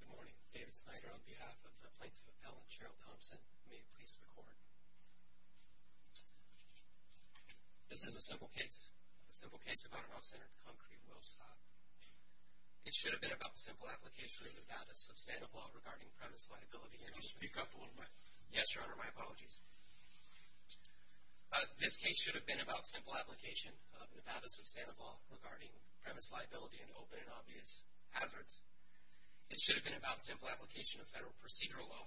Good morning. David Snyder on behalf of the Plaintiff Appellant, General Thompson. May it please the Court. This is a simple case. A simple case about an off-center concrete well stop. It should have been about the simple application of Nevada's substantive law regarding premise liability. Could you speak up a little bit? Yes, Your Honor. My apologies. This case should have been about simple application of Nevada's substantive law regarding premise liability and open and obvious hazards. It should have been about simple application of federal procedural law.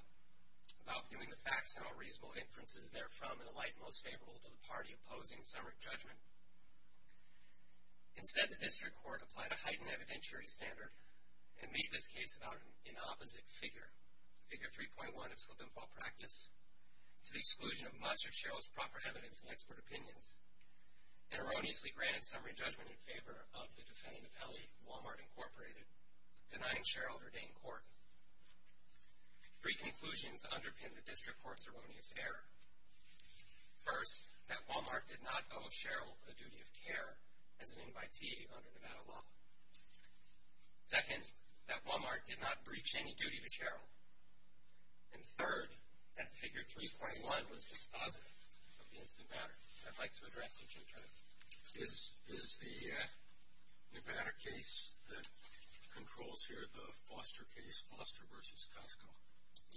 About viewing the facts and how reasonable inferences therefrom in the light most favorable to the party opposing summary judgment. Instead, the District Court applied a heightened evidentiary standard and made this case about an opposite figure. Figure 3.1 of slip-and-fall practice, to the exclusion of much of Sherrill's proper evidence and expert opinions, and erroneously granted summary judgment in favor of the defendant appellee, Walmart Inc., denying Sherrill ordained court. Three conclusions underpin the District Court's erroneous error. First, that Walmart did not owe Sherrill the duty of care as an invitee under Nevada law. Second, that Walmart did not breach any duty to Sherrill. And third, that Figure 3.1 was dispositive of the incident matter. I'd like to address it in turn. Is the Nevada case that controls here the Foster case, Foster v. Costco?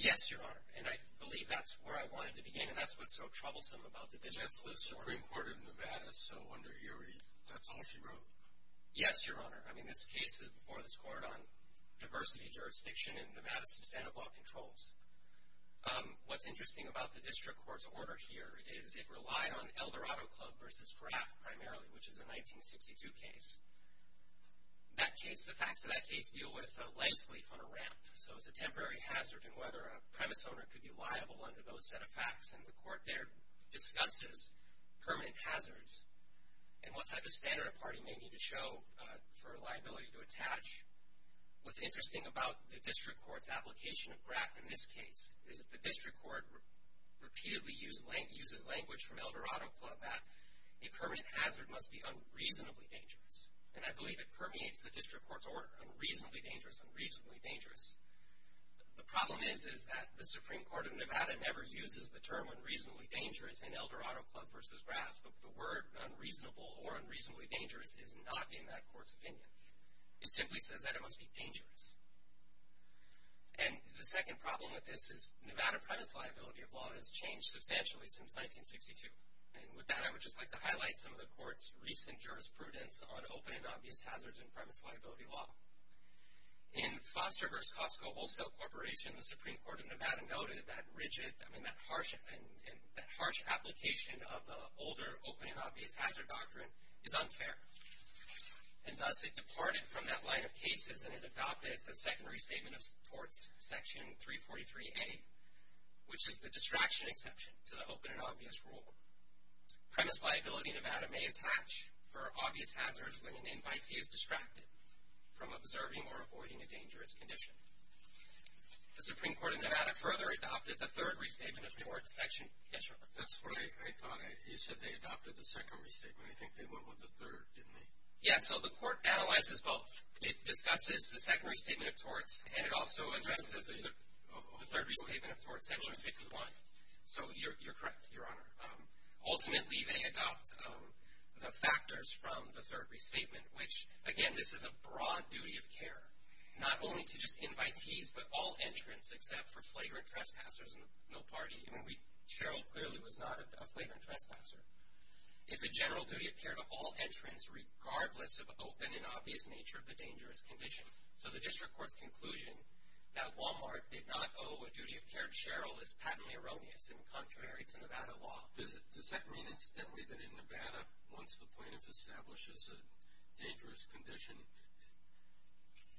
Yes, Your Honor, and I believe that's where I wanted to begin, and that's what's so troublesome about the District Court. That's the Supreme Court of Nevada, so under Erie, that's all she wrote? Yes, Your Honor. I mean, this case is before this court on diversity, jurisdiction, and Nevada's substantive law controls. What's interesting about the District Court's order here is it relied on Eldorado Club v. Graff primarily, which is a 1962 case. That case, the facts of that case deal with a leg sleeve on a ramp, so it's a temporary hazard in whether a premise owner could be liable under those set of facts, and the court there discusses permanent hazards and what type of standard a party may need to show for a liability to attach. What's interesting about the District Court's application of Graff in this case is the District Court repeatedly uses language from Eldorado Club that a permanent hazard must be unreasonably dangerous, and I believe it permeates the District Court's order, unreasonably dangerous, unreasonably dangerous. The problem is that the Supreme Court of Nevada never uses the term unreasonably dangerous in Eldorado Club v. Graff, but the word unreasonable or unreasonably dangerous is not in that court's opinion. It simply says that it must be dangerous. And the second problem with this is Nevada premise liability of law has changed substantially since 1962, and with that I would just like to highlight some of the court's recent jurisprudence on open and obvious hazards in premise liability law. In Foster v. Costco Wholesale Corporation, the Supreme Court of Nevada noted that rigid, I mean that harsh application of the older open and obvious hazard doctrine is unfair, and thus it departed from that line of cases and it adopted the secondary statement of torts, section 343A, which is the distraction exception to the open and obvious rule. Premise liability in Nevada may attach for obvious hazards when an invitee is distracted from observing or avoiding a dangerous condition. The Supreme Court of Nevada further adopted the third restatement of torts, section, yes, Your Honor? That's what I thought. You said they adopted the secondary statement. I think they went with the third, didn't they? Yes, so the court analyzes both. It discusses the secondary statement of torts, and it also addresses the third restatement of torts, section 51. So you're correct, Your Honor. Ultimately, they adopt the factors from the third restatement, which, again, this is a broad duty of care, not only to just invitees but all entrants except for flagrant trespassers and no party. I mean, Cheryl clearly was not a flagrant trespasser. It's a general duty of care to all entrants regardless of open and obvious nature of the dangerous condition. So the district court's conclusion that Walmart did not owe a duty of care to Cheryl is patently erroneous and contrary to Nevada law. Does that mean, incidentally, that in Nevada, once the plaintiff establishes a dangerous condition,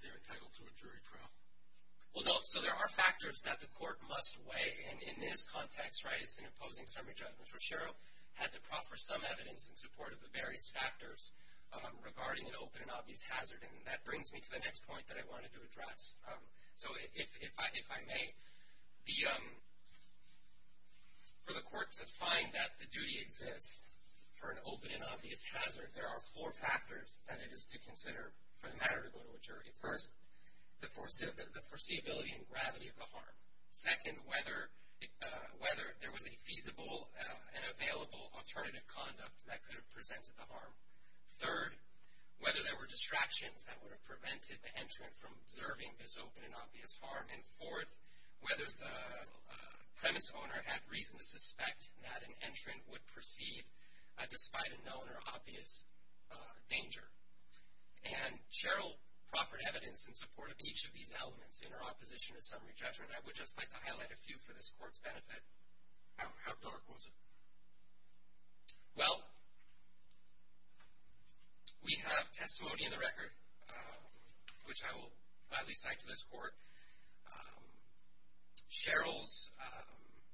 they're entitled to a jury trial? Well, no, so there are factors that the court must weigh, and in this context, right, it's in opposing summary judgments, where Cheryl had to proffer some evidence in support of the various factors regarding an open and obvious hazard. And that brings me to the next point that I wanted to address. So if I may, for the court to find that the duty exists for an open and obvious hazard, there are four factors that it is to consider for the matter to go to a jury. First, the foreseeability and gravity of the harm. Second, whether there was a feasible and available alternative conduct that could have presented the harm. Third, whether there were distractions that would have prevented the entrant from observing this open and obvious harm. And fourth, whether the premise owner had reason to suspect that an entrant would proceed despite a known or obvious danger. And Cheryl proffered evidence in support of each of these elements in her opposition to summary judgment. I would just like to highlight a few for this court's benefit. How dark was it? Well, we have testimony in the record, which I will gladly cite to this court. Cheryl's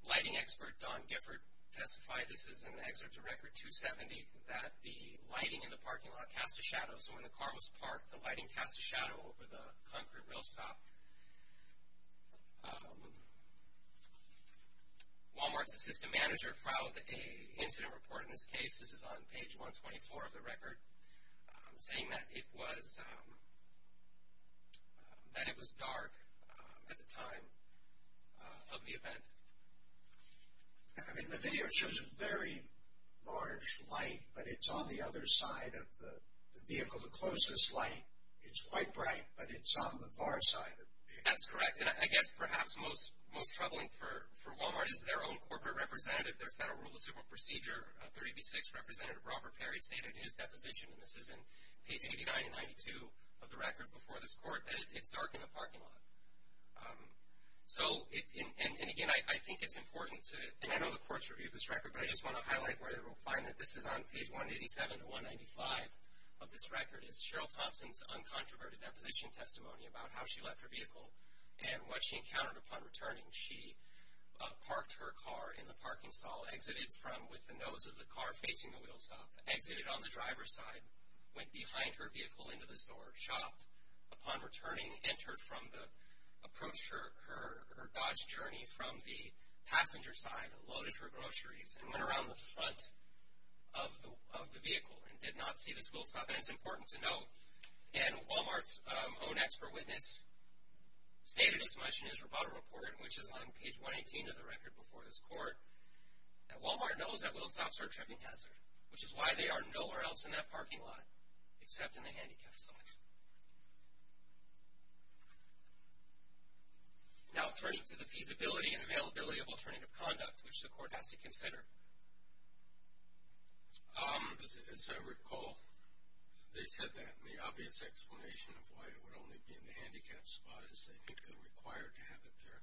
lighting expert, Don Gifford, testified, this is an excerpt to Record 270, that the lighting in the parking lot cast a shadow. So when the car was parked, the lighting cast a shadow over the concrete rail stop. Walmart's assistant manager filed an incident report in this case. This is on page 124 of the record, saying that it was dark at the time of the event. I mean, the video shows very large light, but it's on the other side of the vehicle, the closest light. It's quite bright, but it's on the far side of the vehicle. That's correct. And I guess perhaps most troubling for Walmart is their own corporate representative, their federal rule of civil procedure, 3B6 Representative Robert Perry, stated in his deposition, and this is in page 89 and 92 of the record before this court, that it's dark in the parking lot. So, and again, I think it's important to, and I know the court's review of this record, but I just want to highlight where we'll find that this is on page 187 to 195 of this record, is Cheryl Thompson's uncontroverted deposition testimony about how she left her vehicle and what she encountered upon returning. She parked her car in the parking stall, exited with the nose of the car facing the wheel stop, exited on the driver's side, went behind her vehicle into the store, shopped. Upon returning, approached her Dodge Journey from the passenger side, loaded her groceries, and went around the front of the vehicle and did not see this wheel stop, and it's important to note, and Walmart's own expert witness stated as much in his rebuttal report, which is on page 118 of the record before this court, that Walmart knows that wheel stops are a tripping hazard, which is why they are nowhere else in that parking lot except in the handicapped section. Now turning to the feasibility and availability of alternative conduct, which the court has to consider. As I recall, they said that, and the obvious explanation of why it would only be in the handicapped spot is they think they're required to have it there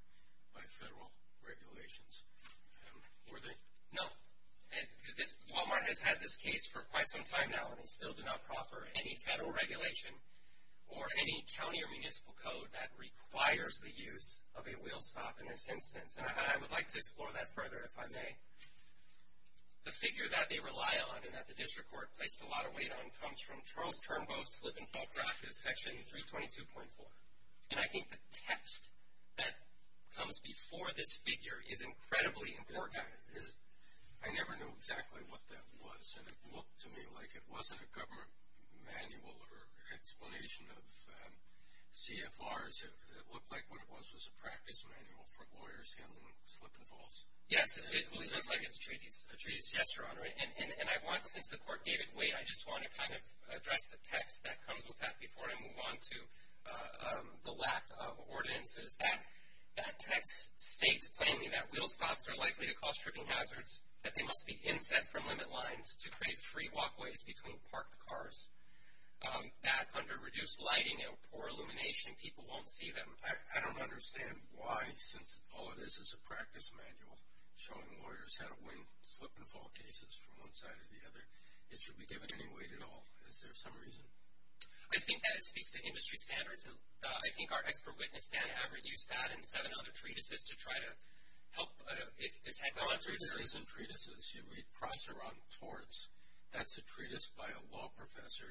by federal regulations. Were they? No. Walmart has had this case for quite some time now, and they still do not proffer any federal regulation or any county or municipal code that requires the use of a wheel stop in this instance. And I would like to explore that further, if I may. The figure that they rely on and that the district court placed a lot of weight on comes from Charles Turnbull's slip-and-fall practice, section 322.4. And I think the text that comes before this figure is incredibly important. I never knew exactly what that was, and it looked to me like it wasn't a government manual or explanation of CFRs. It looked like what it was was a practice manual for lawyers handling slip-and-falls. Yes, it looks like it's a treatise. A treatise, yes, Your Honor. And I want, since the court gave it weight, I just want to kind of address the text that comes with that before I move on to the lack of ordinances. That text states plainly that wheel stops are likely to cause tripping hazards, that they must be inset from limit lines to create free walkways between parked cars, that under reduced lighting and poor illumination people won't see them. I don't understand why, since all it is is a practice manual showing lawyers how to win slip-and-fall cases from one side or the other, it should be given any weight at all. Is there some reason? I think that it speaks to industry standards. I think our expert witness, Dan Averitt, used that and seven other treatises to try to help. There are treatises and treatises. You read Prosser on torts. That's a treatise by a law professor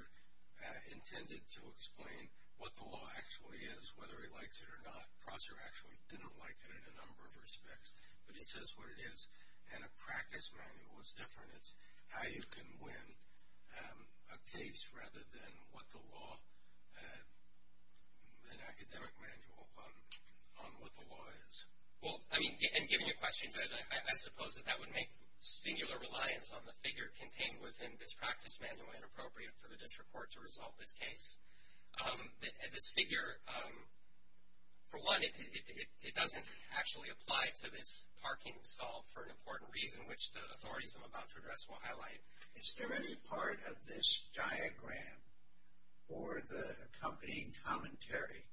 intended to explain what the law actually is, whether he likes it or not. Prosser actually didn't like it in a number of respects, but he says what it is. And a practice manual is different. It's how you can win a case rather than what the law, an academic manual on what the law is. Well, I mean, and giving you a question, Judge, I suppose that that would make singular reliance on the figure contained within this practice manual inappropriate for the district court to resolve this case. This figure, for one, it doesn't actually apply to this parking stall for an important reason, which the authorities I'm about to address will highlight. Is there any part of this diagram or the accompanying commentary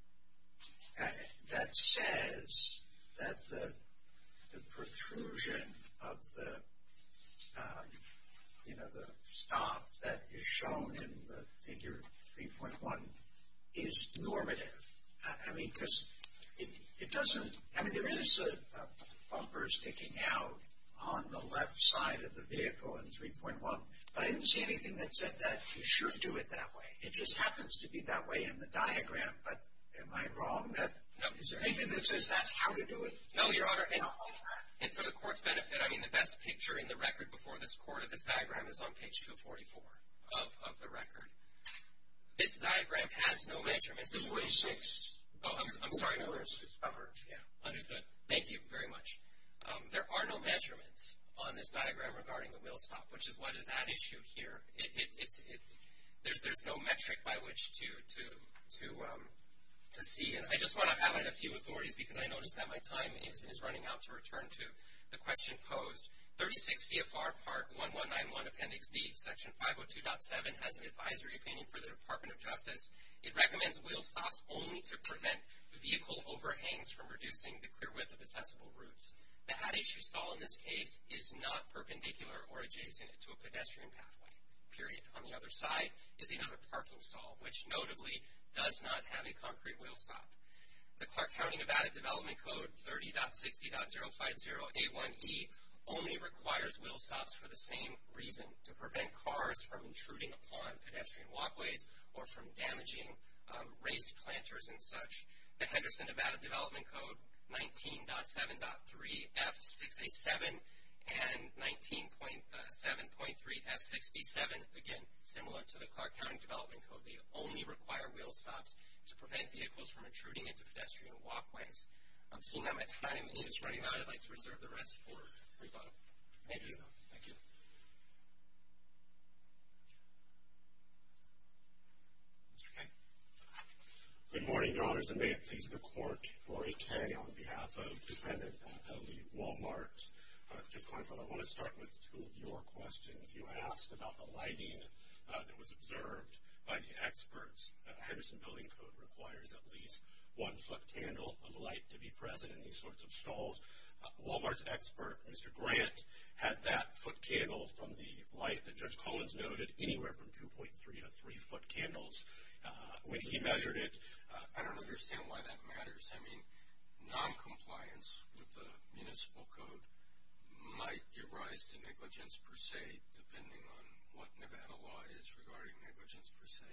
that says that the protrusion of the stuff that is shown in the figure 3.1 is normative? I mean, because it doesn't, I mean, there is a bumper sticking out on the left side of the vehicle in 3.1, but I didn't see anything that said that you should do it that way. It just happens to be that way in the diagram, but am I wrong? Is there anything that says that's how to do it? No, Your Honor, and for the court's benefit, I mean, the best picture in the record before this court of this diagram is on page 244 of the record. This diagram has no measurements. It's 46. Oh, I'm sorry, Your Honor. Understood. Thank you very much. There are no measurements on this diagram regarding the wheel stop, which is what is at issue here. There's no metric by which to see it. I just want to highlight a few authorities because I noticed that my time is running out to return to the question posed. 36 CFR Part 1191 Appendix D, Section 502.7 has an advisory opinion for the Department of Justice. It recommends wheel stops only to prevent vehicle overhangs from reducing the clear width of accessible routes. The at issue stall in this case is not perpendicular or adjacent to a pedestrian pathway, period. On the other side is another parking stall, which notably does not have a concrete wheel stop. The Clark County, Nevada, Development Code 30.60.050A1E only requires wheel stops for the same reason, to prevent cars from intruding upon pedestrian walkways or from damaging raised planters and such. The Henderson, Nevada, Development Code 19.7.3F6A7 and 19.7.3F6B7, again, similar to the Clark County Development Code, they only require wheel stops to prevent vehicles from intruding into pedestrian walkways. I'm seeing that my time is running out. I'd like to reserve the rest for rebuttal. Thank you, sir. Thank you. Mr. Kaye. Good morning, Your Honors, and may it please the Court, Laurie Kaye, on behalf of the defendant of the Wal-Mart. I want to start with two of your questions. You asked about the lighting that was observed by the experts. Henderson Building Code requires at least one foot candle of light to be present in these sorts of stalls. Wal-Mart's expert, Mr. Grant, had that foot candle from the light that Judge Collins noted, anywhere from 2.3 to 3 foot candles. When he measured it, I don't understand why that matters. I mean, noncompliance with the municipal code might give rise to negligence per se, depending on what Nevada law is regarding negligence per se.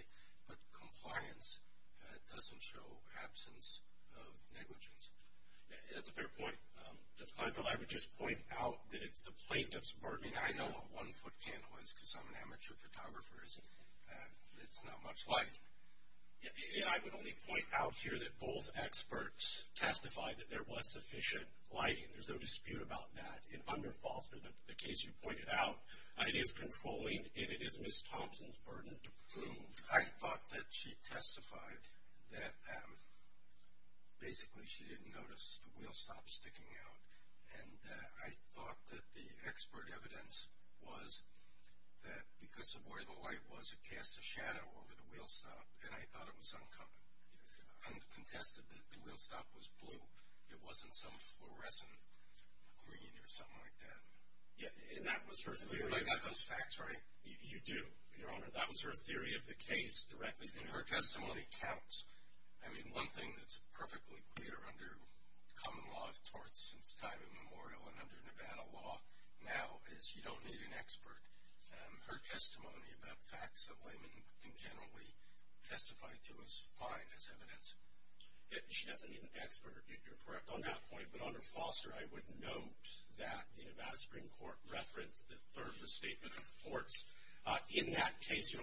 But compliance doesn't show absence of negligence. That's a fair point. Judge Clinefield, I would just point out that it's the plaintiff's burden. I mean, I know what one foot candle is because I'm an amateur photographer, and it's not much light. And I would only point out here that both experts testified that there was sufficient light, and there's no dispute about that. It underfalls the case you pointed out. It is controlling, and it is Ms. Thompson's burden to prove. I thought that she testified that basically she didn't notice the wheel stop sticking out. And I thought that the expert evidence was that because of where the light was, it cast a shadow over the wheel stop, and I thought it was uncontested that the wheel stop was blue. It wasn't some fluorescent green or something like that. Yeah, and that was her theory. I got those facts right? You do, Your Honor. That was her theory of the case directly. And her testimony counts. I mean, one thing that's perfectly clear under common law of torts since time immemorial and under Nevada law now is you don't need an expert. Her testimony about facts that laymen can generally testify to is fine as evidence. She doesn't need an expert. You're correct on that point. But under Foster, I would note that the Nevada Supreme Court referenced the third restatement of the courts. In that case,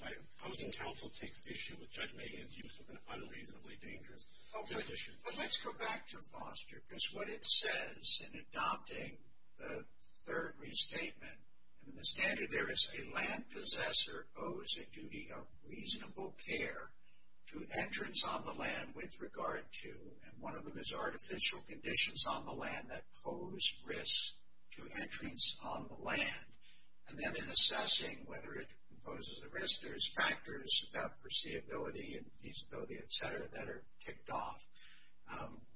my opposing counsel takes issue with Judge Maygan's use of an unreasonably dangerous condition. But let's go back to Foster because what it says in adopting the third restatement, and the standard there is a land possessor owes a duty of reasonable care to entrance on the land with regard to, and one of them is artificial conditions on the land that pose risk to entrance on the land. And then in assessing whether it poses a risk, there's factors about foreseeability and feasibility, et cetera, that are ticked off.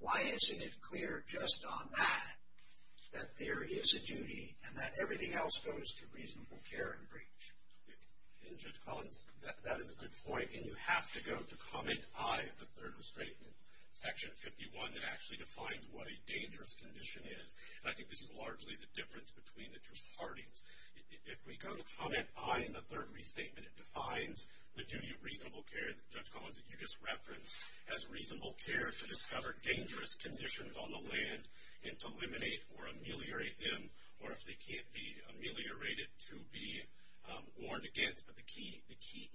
Why isn't it clear just on that that there is a duty and that everything else goes to reasonable care and breach? And Judge Collins, that is a good point. And you have to go to comment I of the third restatement, section 51, that actually defines what a dangerous condition is. And I think this is largely the difference between the two parties. If we go to comment I in the third restatement, it defines the duty of reasonable care that Judge Collins, that you just referenced, as reasonable care to discover dangerous conditions on the land and to eliminate or ameliorate them, or if they can't be ameliorated, to be warned against. But the key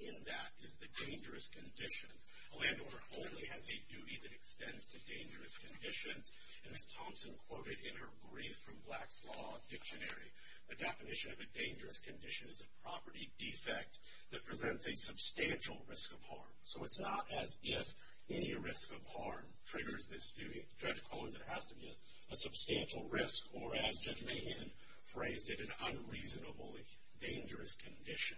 in that is the dangerous condition. A landowner only has a duty that extends to dangerous conditions. And as Thompson quoted in her Brief from Black's Law dictionary, a definition of a dangerous condition is a property defect that presents a substantial risk of harm. So it's not as if any risk of harm triggers this duty. Judge Collins, it has to be a substantial risk, or as Judge Mahan phrased it, an unreasonably dangerous condition.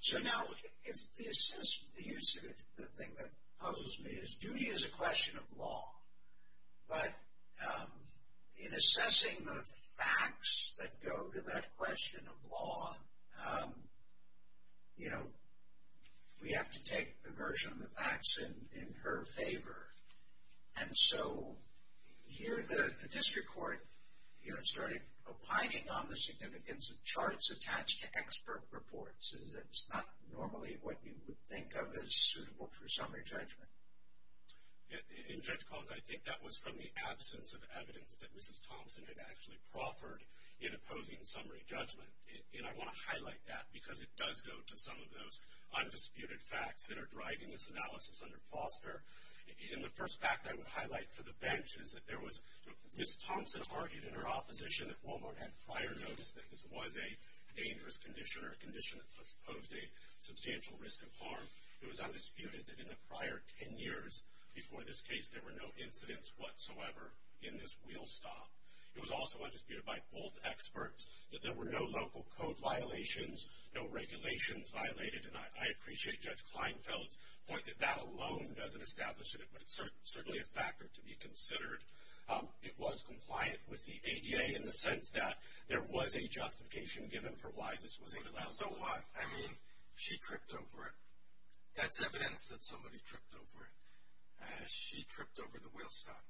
So now, the thing that puzzles me is duty is a question of law. But in assessing the facts that go to that question of law, you know, we have to take the version of the facts in her favor. And so, here the district court, you know, started opining on the significance of charts attached to expert reports. It's not normally what you would think of as suitable for summary judgment. In Judge Collins, I think that was from the absence of evidence that Mrs. Thompson had actually proffered in opposing summary judgment. And I want to highlight that because it does go to some of those undisputed facts that are driving this analysis under Foster. And the first fact I would highlight for the bench is that there was Mrs. Thompson argued in her opposition at Walmart and prior notice that this was a dangerous condition or a condition that posed a substantial risk of harm. It was undisputed that in the prior ten years before this case, there were no incidents whatsoever in this wheel stop. It was also undisputed by both experts that there were no local code violations, no regulations violated. And I appreciate Judge Kleinfeld's point that that alone doesn't establish it. But it's certainly a factor to be considered. It was compliant with the ADA in the sense that there was a justification given for why this was allowed. So what? I mean, she tripped over it. That's evidence that somebody tripped over it. She tripped over the wheel stop.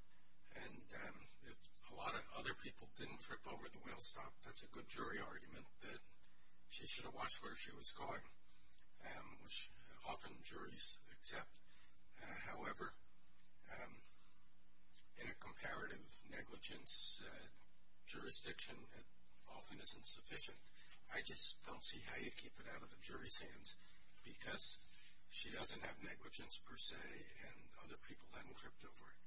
And if a lot of other people didn't trip over the wheel stop, that's a good jury argument that she should have watched where she was going, which often juries accept. However, in a comparative negligence jurisdiction, it often isn't sufficient. I just don't see how you'd keep it out of the jury's hands because she doesn't have negligence, per se, and other people haven't tripped over it.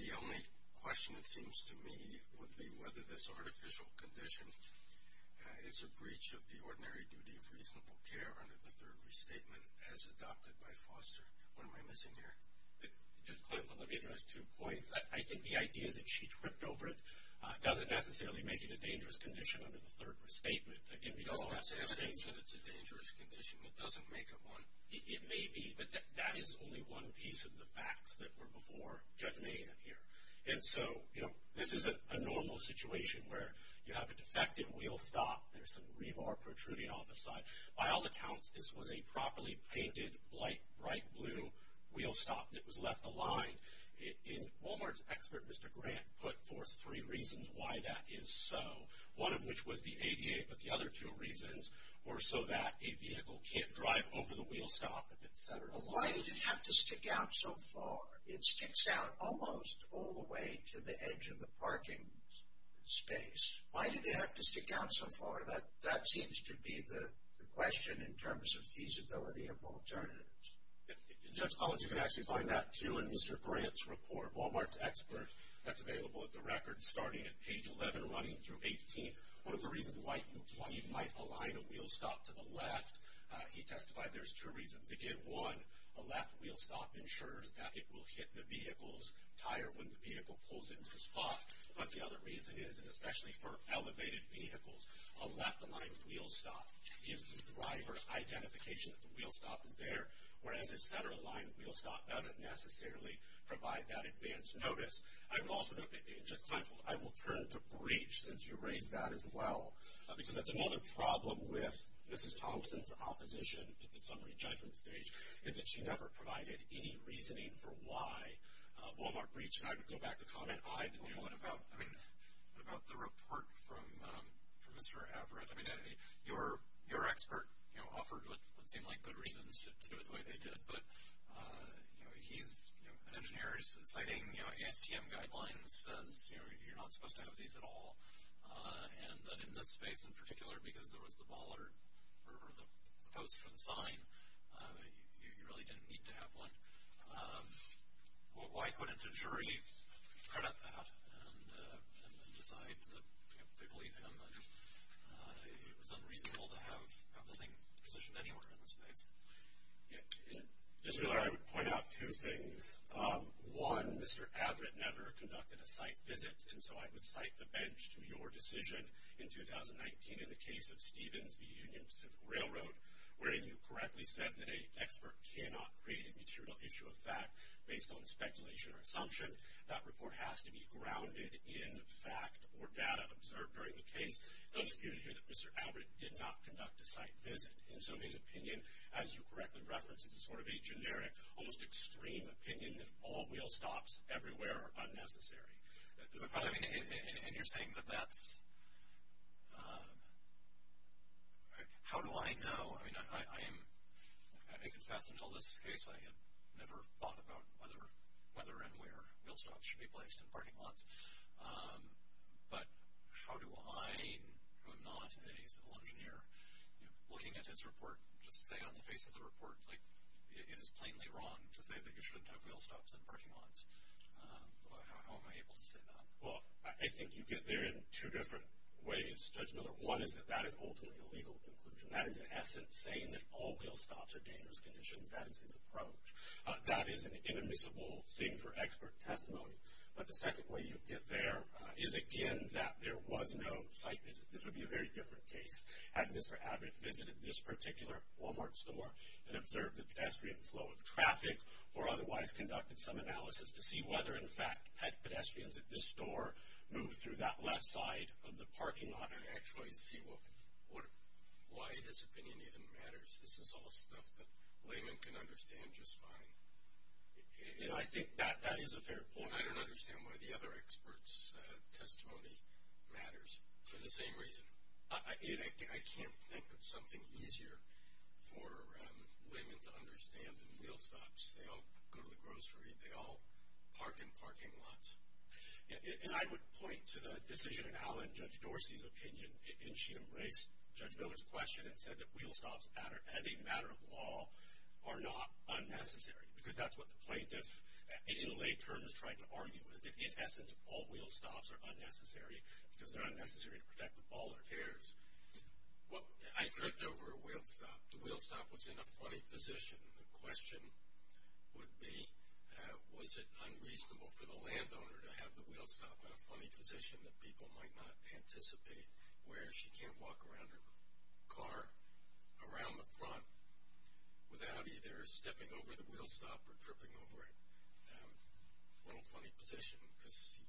The only question, it seems to me, would be whether this artificial condition is a breach of the ordinary duty of reasonable care under the third restatement as adopted by Foster. What am I missing here? Judge Kleinfeld, let me address two points. I think the idea that she tripped over it doesn't necessarily make it a dangerous condition under the third restatement. It doesn't necessarily make it a dangerous condition. It doesn't make it one. It may be, but that is only one piece of the facts that were before Judge Mahan here. And so, you know, this isn't a normal situation where you have a defective wheel stop, there's some rebar protruding off the side. By all accounts, this was a properly painted, light, bright blue wheel stop that was left aligned. In Wal-Mart's expert, Mr. Grant, put forth three reasons why that is so, one of which was the ADA, but the other two reasons were so that a vehicle can't drive over the wheel stop, etc. Why did it have to stick out so far? It sticks out almost all the way to the edge of the parking space. Why did it have to stick out so far? That seems to be the question in terms of feasibility of alternatives. Judge Collins, you can actually find that too in Mr. Grant's report, Wal-Mart's expert. That's available at the record starting at page 11, running through 18. One of the reasons why he might align a wheel stop to the left, he testified there's two reasons. Again, one, a left wheel stop ensures that it will hit the vehicle's tire when the vehicle pulls it into spot. But the other reason is, and especially for elevated vehicles, a left-aligned wheel stop gives the driver identification that the wheel stop is there, whereas a center-aligned wheel stop doesn't necessarily provide that advance notice. I would also note, and Judge Kleinfeld, I will turn to Breach, since you raised that as well, because that's another problem with Mrs. Thomson's opposition at the summary judgment stage, is that she never provided any reasoning for why Wal-Mart breached. And I would go back to comment I did. What about the report from Mr. Everett? I mean, your expert offered what seemed like good reasons to do it the way they did, but he's an engineer citing ASTM guidelines, says you're not supposed to have these at all, and that in this space in particular, because there was the post for the sign, you really didn't need to have one. Why couldn't a jury credit that and decide that they believe him? It was unreasonable to have the thing positioned anywhere in the space. Mr. Miller, I would point out two things. One, Mr. Everett never conducted a site visit, and so I would cite the bench to your decision in 2019 in the case of Stevens v. Union Pacific Railroad, wherein you correctly said that an expert cannot create a material issue of fact based on speculation or assumption. That report has to be grounded in fact or data observed during the case. It's undisputed here that Mr. Everett did not conduct a site visit, and so his opinion, as you correctly referenced, is sort of a generic, almost extreme opinion that all wheel stops everywhere are unnecessary. And you're saying that that's, how do I know? I confess until this case I had never thought about whether and where wheel stops should be placed in parking lots, but how do I, who am not a civil engineer, looking at this report, just to say on the face of the report, it is plainly wrong to say that you shouldn't have wheel stops in parking lots. How am I able to say that? Well, I think you get there in two different ways, Judge Miller. One is that that is ultimately a legal conclusion. That is, in essence, saying that all wheel stops are dangerous conditions. That is his approach. That is an inadmissible thing for expert testimony. But the second way you get there is, again, that there was no site visit. This would be a very different case had Mr. Everett visited this particular Walmart store and observed the pedestrian flow of traffic or otherwise conducted some analysis to see whether, in fact, had pedestrians at this store moved through that left side of the parking lot and actually see why this opinion even matters. This is all stuff that laymen can understand just fine. And I think that is a fair point. I don't understand why the other expert's testimony matters for the same reason. I can't think of something easier for laymen to understand than wheel stops. They all go to the grocery. They all park in parking lots. And I would point to the decision in Allen, Judge Dorsey's opinion, and she embraced Judge Miller's question and said that wheel stops, as a matter of law, are not unnecessary because that's what the plaintiff, in lay terms, tried to argue, is that, in essence, all wheel stops are unnecessary because they're unnecessary to protect the ball or tears. I tripped over a wheel stop. The wheel stop was in a funny position. The question would be was it unreasonable for the landowner to have the wheel stop in a funny position that people might not anticipate where she can't walk around her car around the front without either stepping over the wheel stop or tripping over it. A little funny position because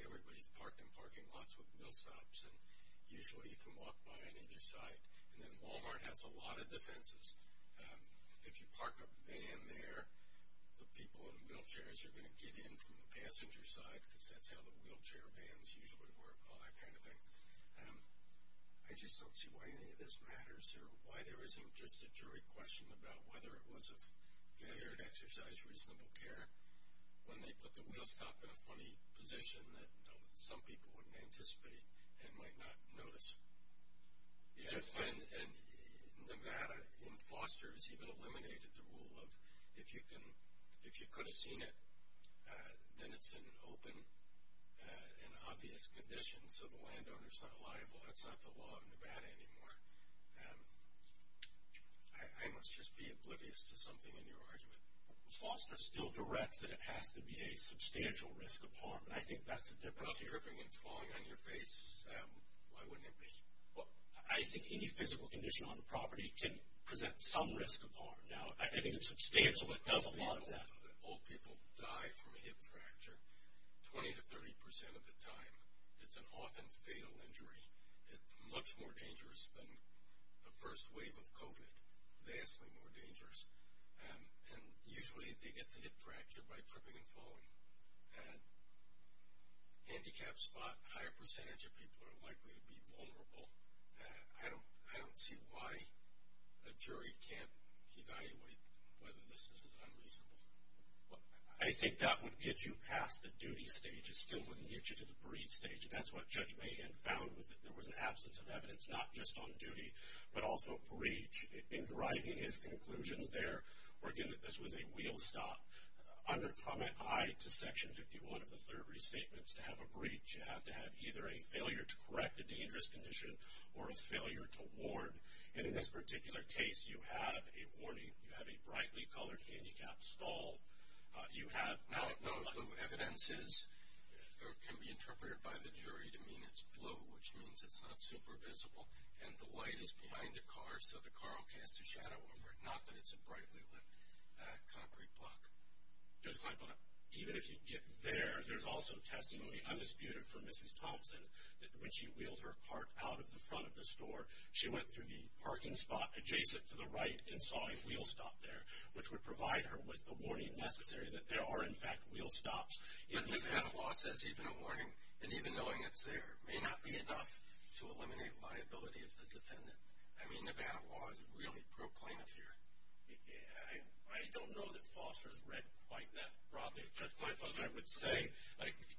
everybody's parked in parking lots with wheel stops, and usually you can walk by on either side. And then Walmart has a lot of defenses. If you park a van there, the people in wheelchairs are going to get in from the passenger side because that's how the wheelchair vans usually work, all that kind of thing. I just don't see why any of this matters or why there isn't just a jury question about whether it was a failure to exercise reasonable care when they put the wheel stop in a funny position that some people wouldn't anticipate and might not notice. Nevada, in fosters, even eliminated the rule of if you could have seen it, then it's an open and obvious condition, so the landowner's not liable. That's not the law of Nevada anymore. I must just be oblivious to something in your argument. Foster still directs that it has to be a substantial risk of harm, and I think that's a different theory. If it's not tripping and falling on your face, why wouldn't it be? I think any physical condition on a property can present some risk of harm. Now, I think it's substantial, it does a lot of that. Old people die from a hip fracture 20 to 30 percent of the time. It's an often fatal injury. It's much more dangerous than the first wave of COVID, vastly more dangerous, and usually they get the hip fracture by tripping and falling. Handicapped spot, a higher percentage of people are likely to be vulnerable. I don't see why a jury can't evaluate whether this is unreasonable. I think that would get you past the duty stage. It still wouldn't get you to the breach stage, and that's what Judge Mahan found was that there was an absence of evidence, not just on duty, but also breach. In driving his conclusions there, we're given that this was a wheel stop. Under comment I to section 51 of the third restatement, to have a breach, you have to have either a failure to correct a dangerous condition or a failure to warn, and in this particular case, you have a warning. You have a brightly colored handicapped stall. You have not enough evidence. The evidence can be interpreted by the jury to mean it's blue, which means it's not super visible, and the light is behind the car, so the car will cast a shadow over it, not that it's a brightly lit concrete block. Judge Kleinfeld, even if you get there, there's also testimony undisputed for Mrs. Thompson that when she wheeled her cart out of the front of the store, she went through the parking spot adjacent to the right and saw a wheel stop there, which would provide her with the warning necessary that there are, in fact, wheel stops. But Nevada law says even a warning, and even knowing it's there, may not be enough to eliminate liability of the defendant. I mean, Nevada law is really pro plaintiff here. I don't know that Foster has read quite that broadly. Judge Kleinfeld, I would say,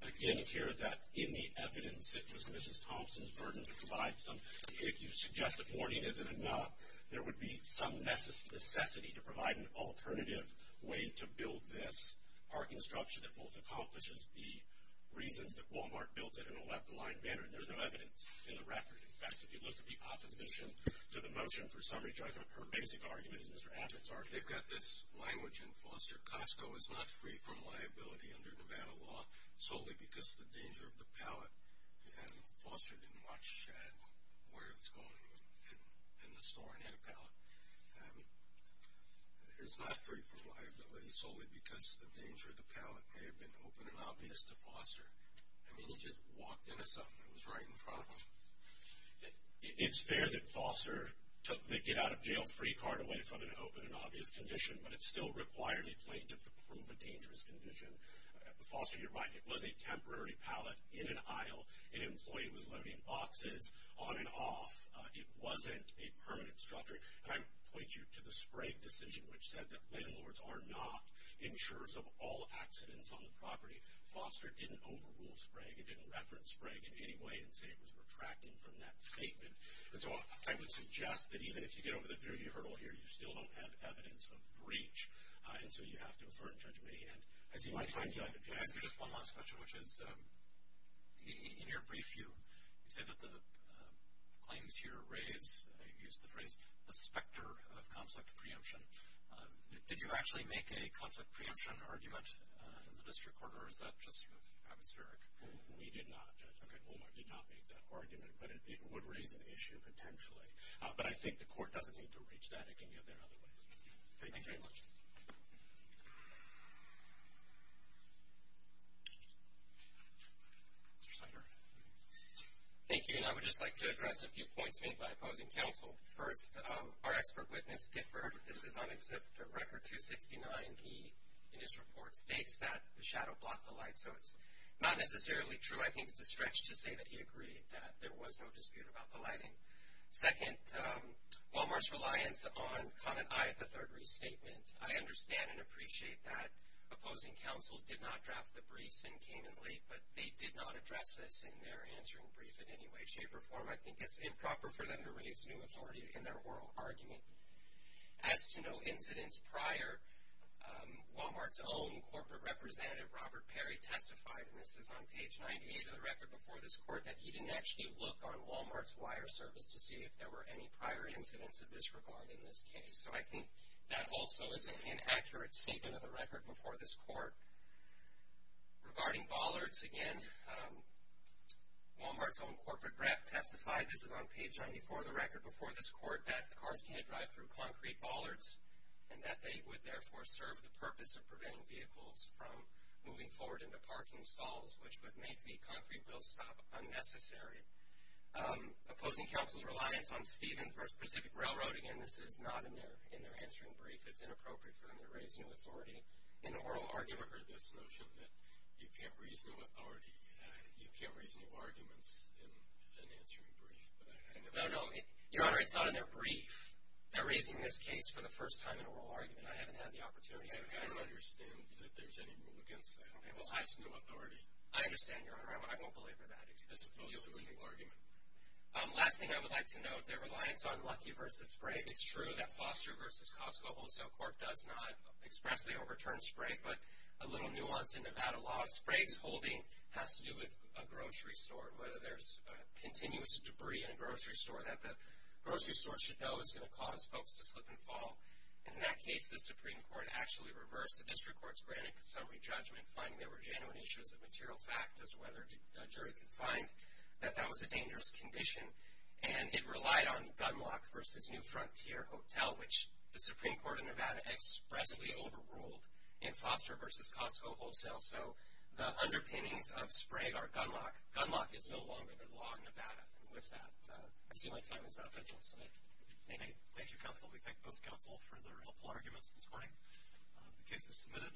again, here, that in the evidence, it was Mrs. Thompson's burden to provide some. If you suggest a warning isn't enough, there would be some necessity to provide an alternative way to build this parking structure that both accomplishes the reasons that Walmart built it in a left-of-line manner, and there's no evidence in the record. In fact, if you look at the opposition to the motion for summary judgment, her basic argument is Mr. Abbott's argument. They've got this language in Foster, Costco is not free from liability under Nevada law solely because the danger of the pallet. Foster didn't watch where it was going in the store and had a pallet. It's not free from liability solely because the danger of the pallet may have been open and obvious to Foster. I mean, he just walked in and something was right in front of him. It's fair that Foster took the get-out-of-jail-free card away from an open and obvious condition, but it still required a plaintiff to prove a dangerous condition. Foster, you're right, it was a temporary pallet in an aisle. An employee was loading boxes on and off. It wasn't a permanent structure. And I would point you to the Sprague decision, which said that landlords are not insurers of all accidents on the property. Foster didn't overrule Sprague. I don't think it didn't reference Sprague in any way and say it was retracting from that statement. And so I would suggest that even if you get over the theory hurdle here, you still don't have evidence of breach, and so you have to affirm judgment. I see one last question, which is, in your brief, you say that the claims here raise, you used the phrase, the specter of conflict preemption. Did you actually make a conflict preemption argument in the district court, or is that just sort of atmospheric? We did not, Judge. Okay, Walmart did not make that argument, but it would raise an issue potentially. But I think the court doesn't need to reach that. It can get there other ways. Thank you very much. Thank you, and I would just like to address a few points made by opposing counsel. First, our expert witness differed. This is on Exhibit Record 269. He, in his report, states that the shadow blocked the light, so it's not necessarily true. I think it's a stretch to say that he agreed, that there was no dispute about the lighting. Second, Walmart's reliance on comment I of the third restatement. I understand and appreciate that opposing counsel did not draft the briefs incanently, but they did not address this in their answering brief in any way, shape, or form. I think it's improper for them to raise new authority in their oral argument. As to no incidents prior, Walmart's own corporate representative, Robert Perry, testified, and this is on page 98 of the record before this court, that he didn't actually look on Walmart's wire service to see if there were any prior incidents of disregard in this case. So I think that also is an inaccurate statement of the record before this court. Regarding bollards, again, Walmart's own corporate rep testified, this is on page 94 of the record before this court, that cars can't drive through concrete bollards and that they would, therefore, serve the purpose of preventing vehicles from moving forward into parking stalls, which would make the concrete bill stop unnecessary. Opposing counsel's reliance on Stevens versus Pacific Railroad, again, this is not in their answering brief. It's inappropriate for them to raise new authority in an oral argument. I've never heard this notion that you can't raise new authority, you can't raise new arguments in an answering brief. No, no, Your Honor, it's not in their brief. They're raising this case for the first time in an oral argument. I haven't had the opportunity. I don't understand that there's any rule against that. It's just new authority. I understand, Your Honor. I won't belabor that. As opposed to a new argument. Last thing I would like to note, their reliance on Lucky versus Spray. It's true that Foster versus Costco Wholesale Court does not expressly overturn Spray, but a little nuance in Nevada law. Spray's holding has to do with a grocery store and whether there's continuous debris in a grocery store, that the grocery store should know it's going to cause folks to slip and fall. In that case, the Supreme Court actually reversed the district court's granted summary judgment, finding there were genuine issues of material fact as to whether a jury could find that that was a dangerous condition. And it relied on Gunlock versus New Frontier Hotel, which the Supreme Court of Nevada expressly overruled in Foster versus Costco Wholesale. So the underpinnings of Spray are Gunlock. Gunlock is no longer the law in Nevada. And with that, I see my time is up. I will submit. Anything? Thank you, counsel. We thank both counsel for their helpful arguments this morning. The case is submitted.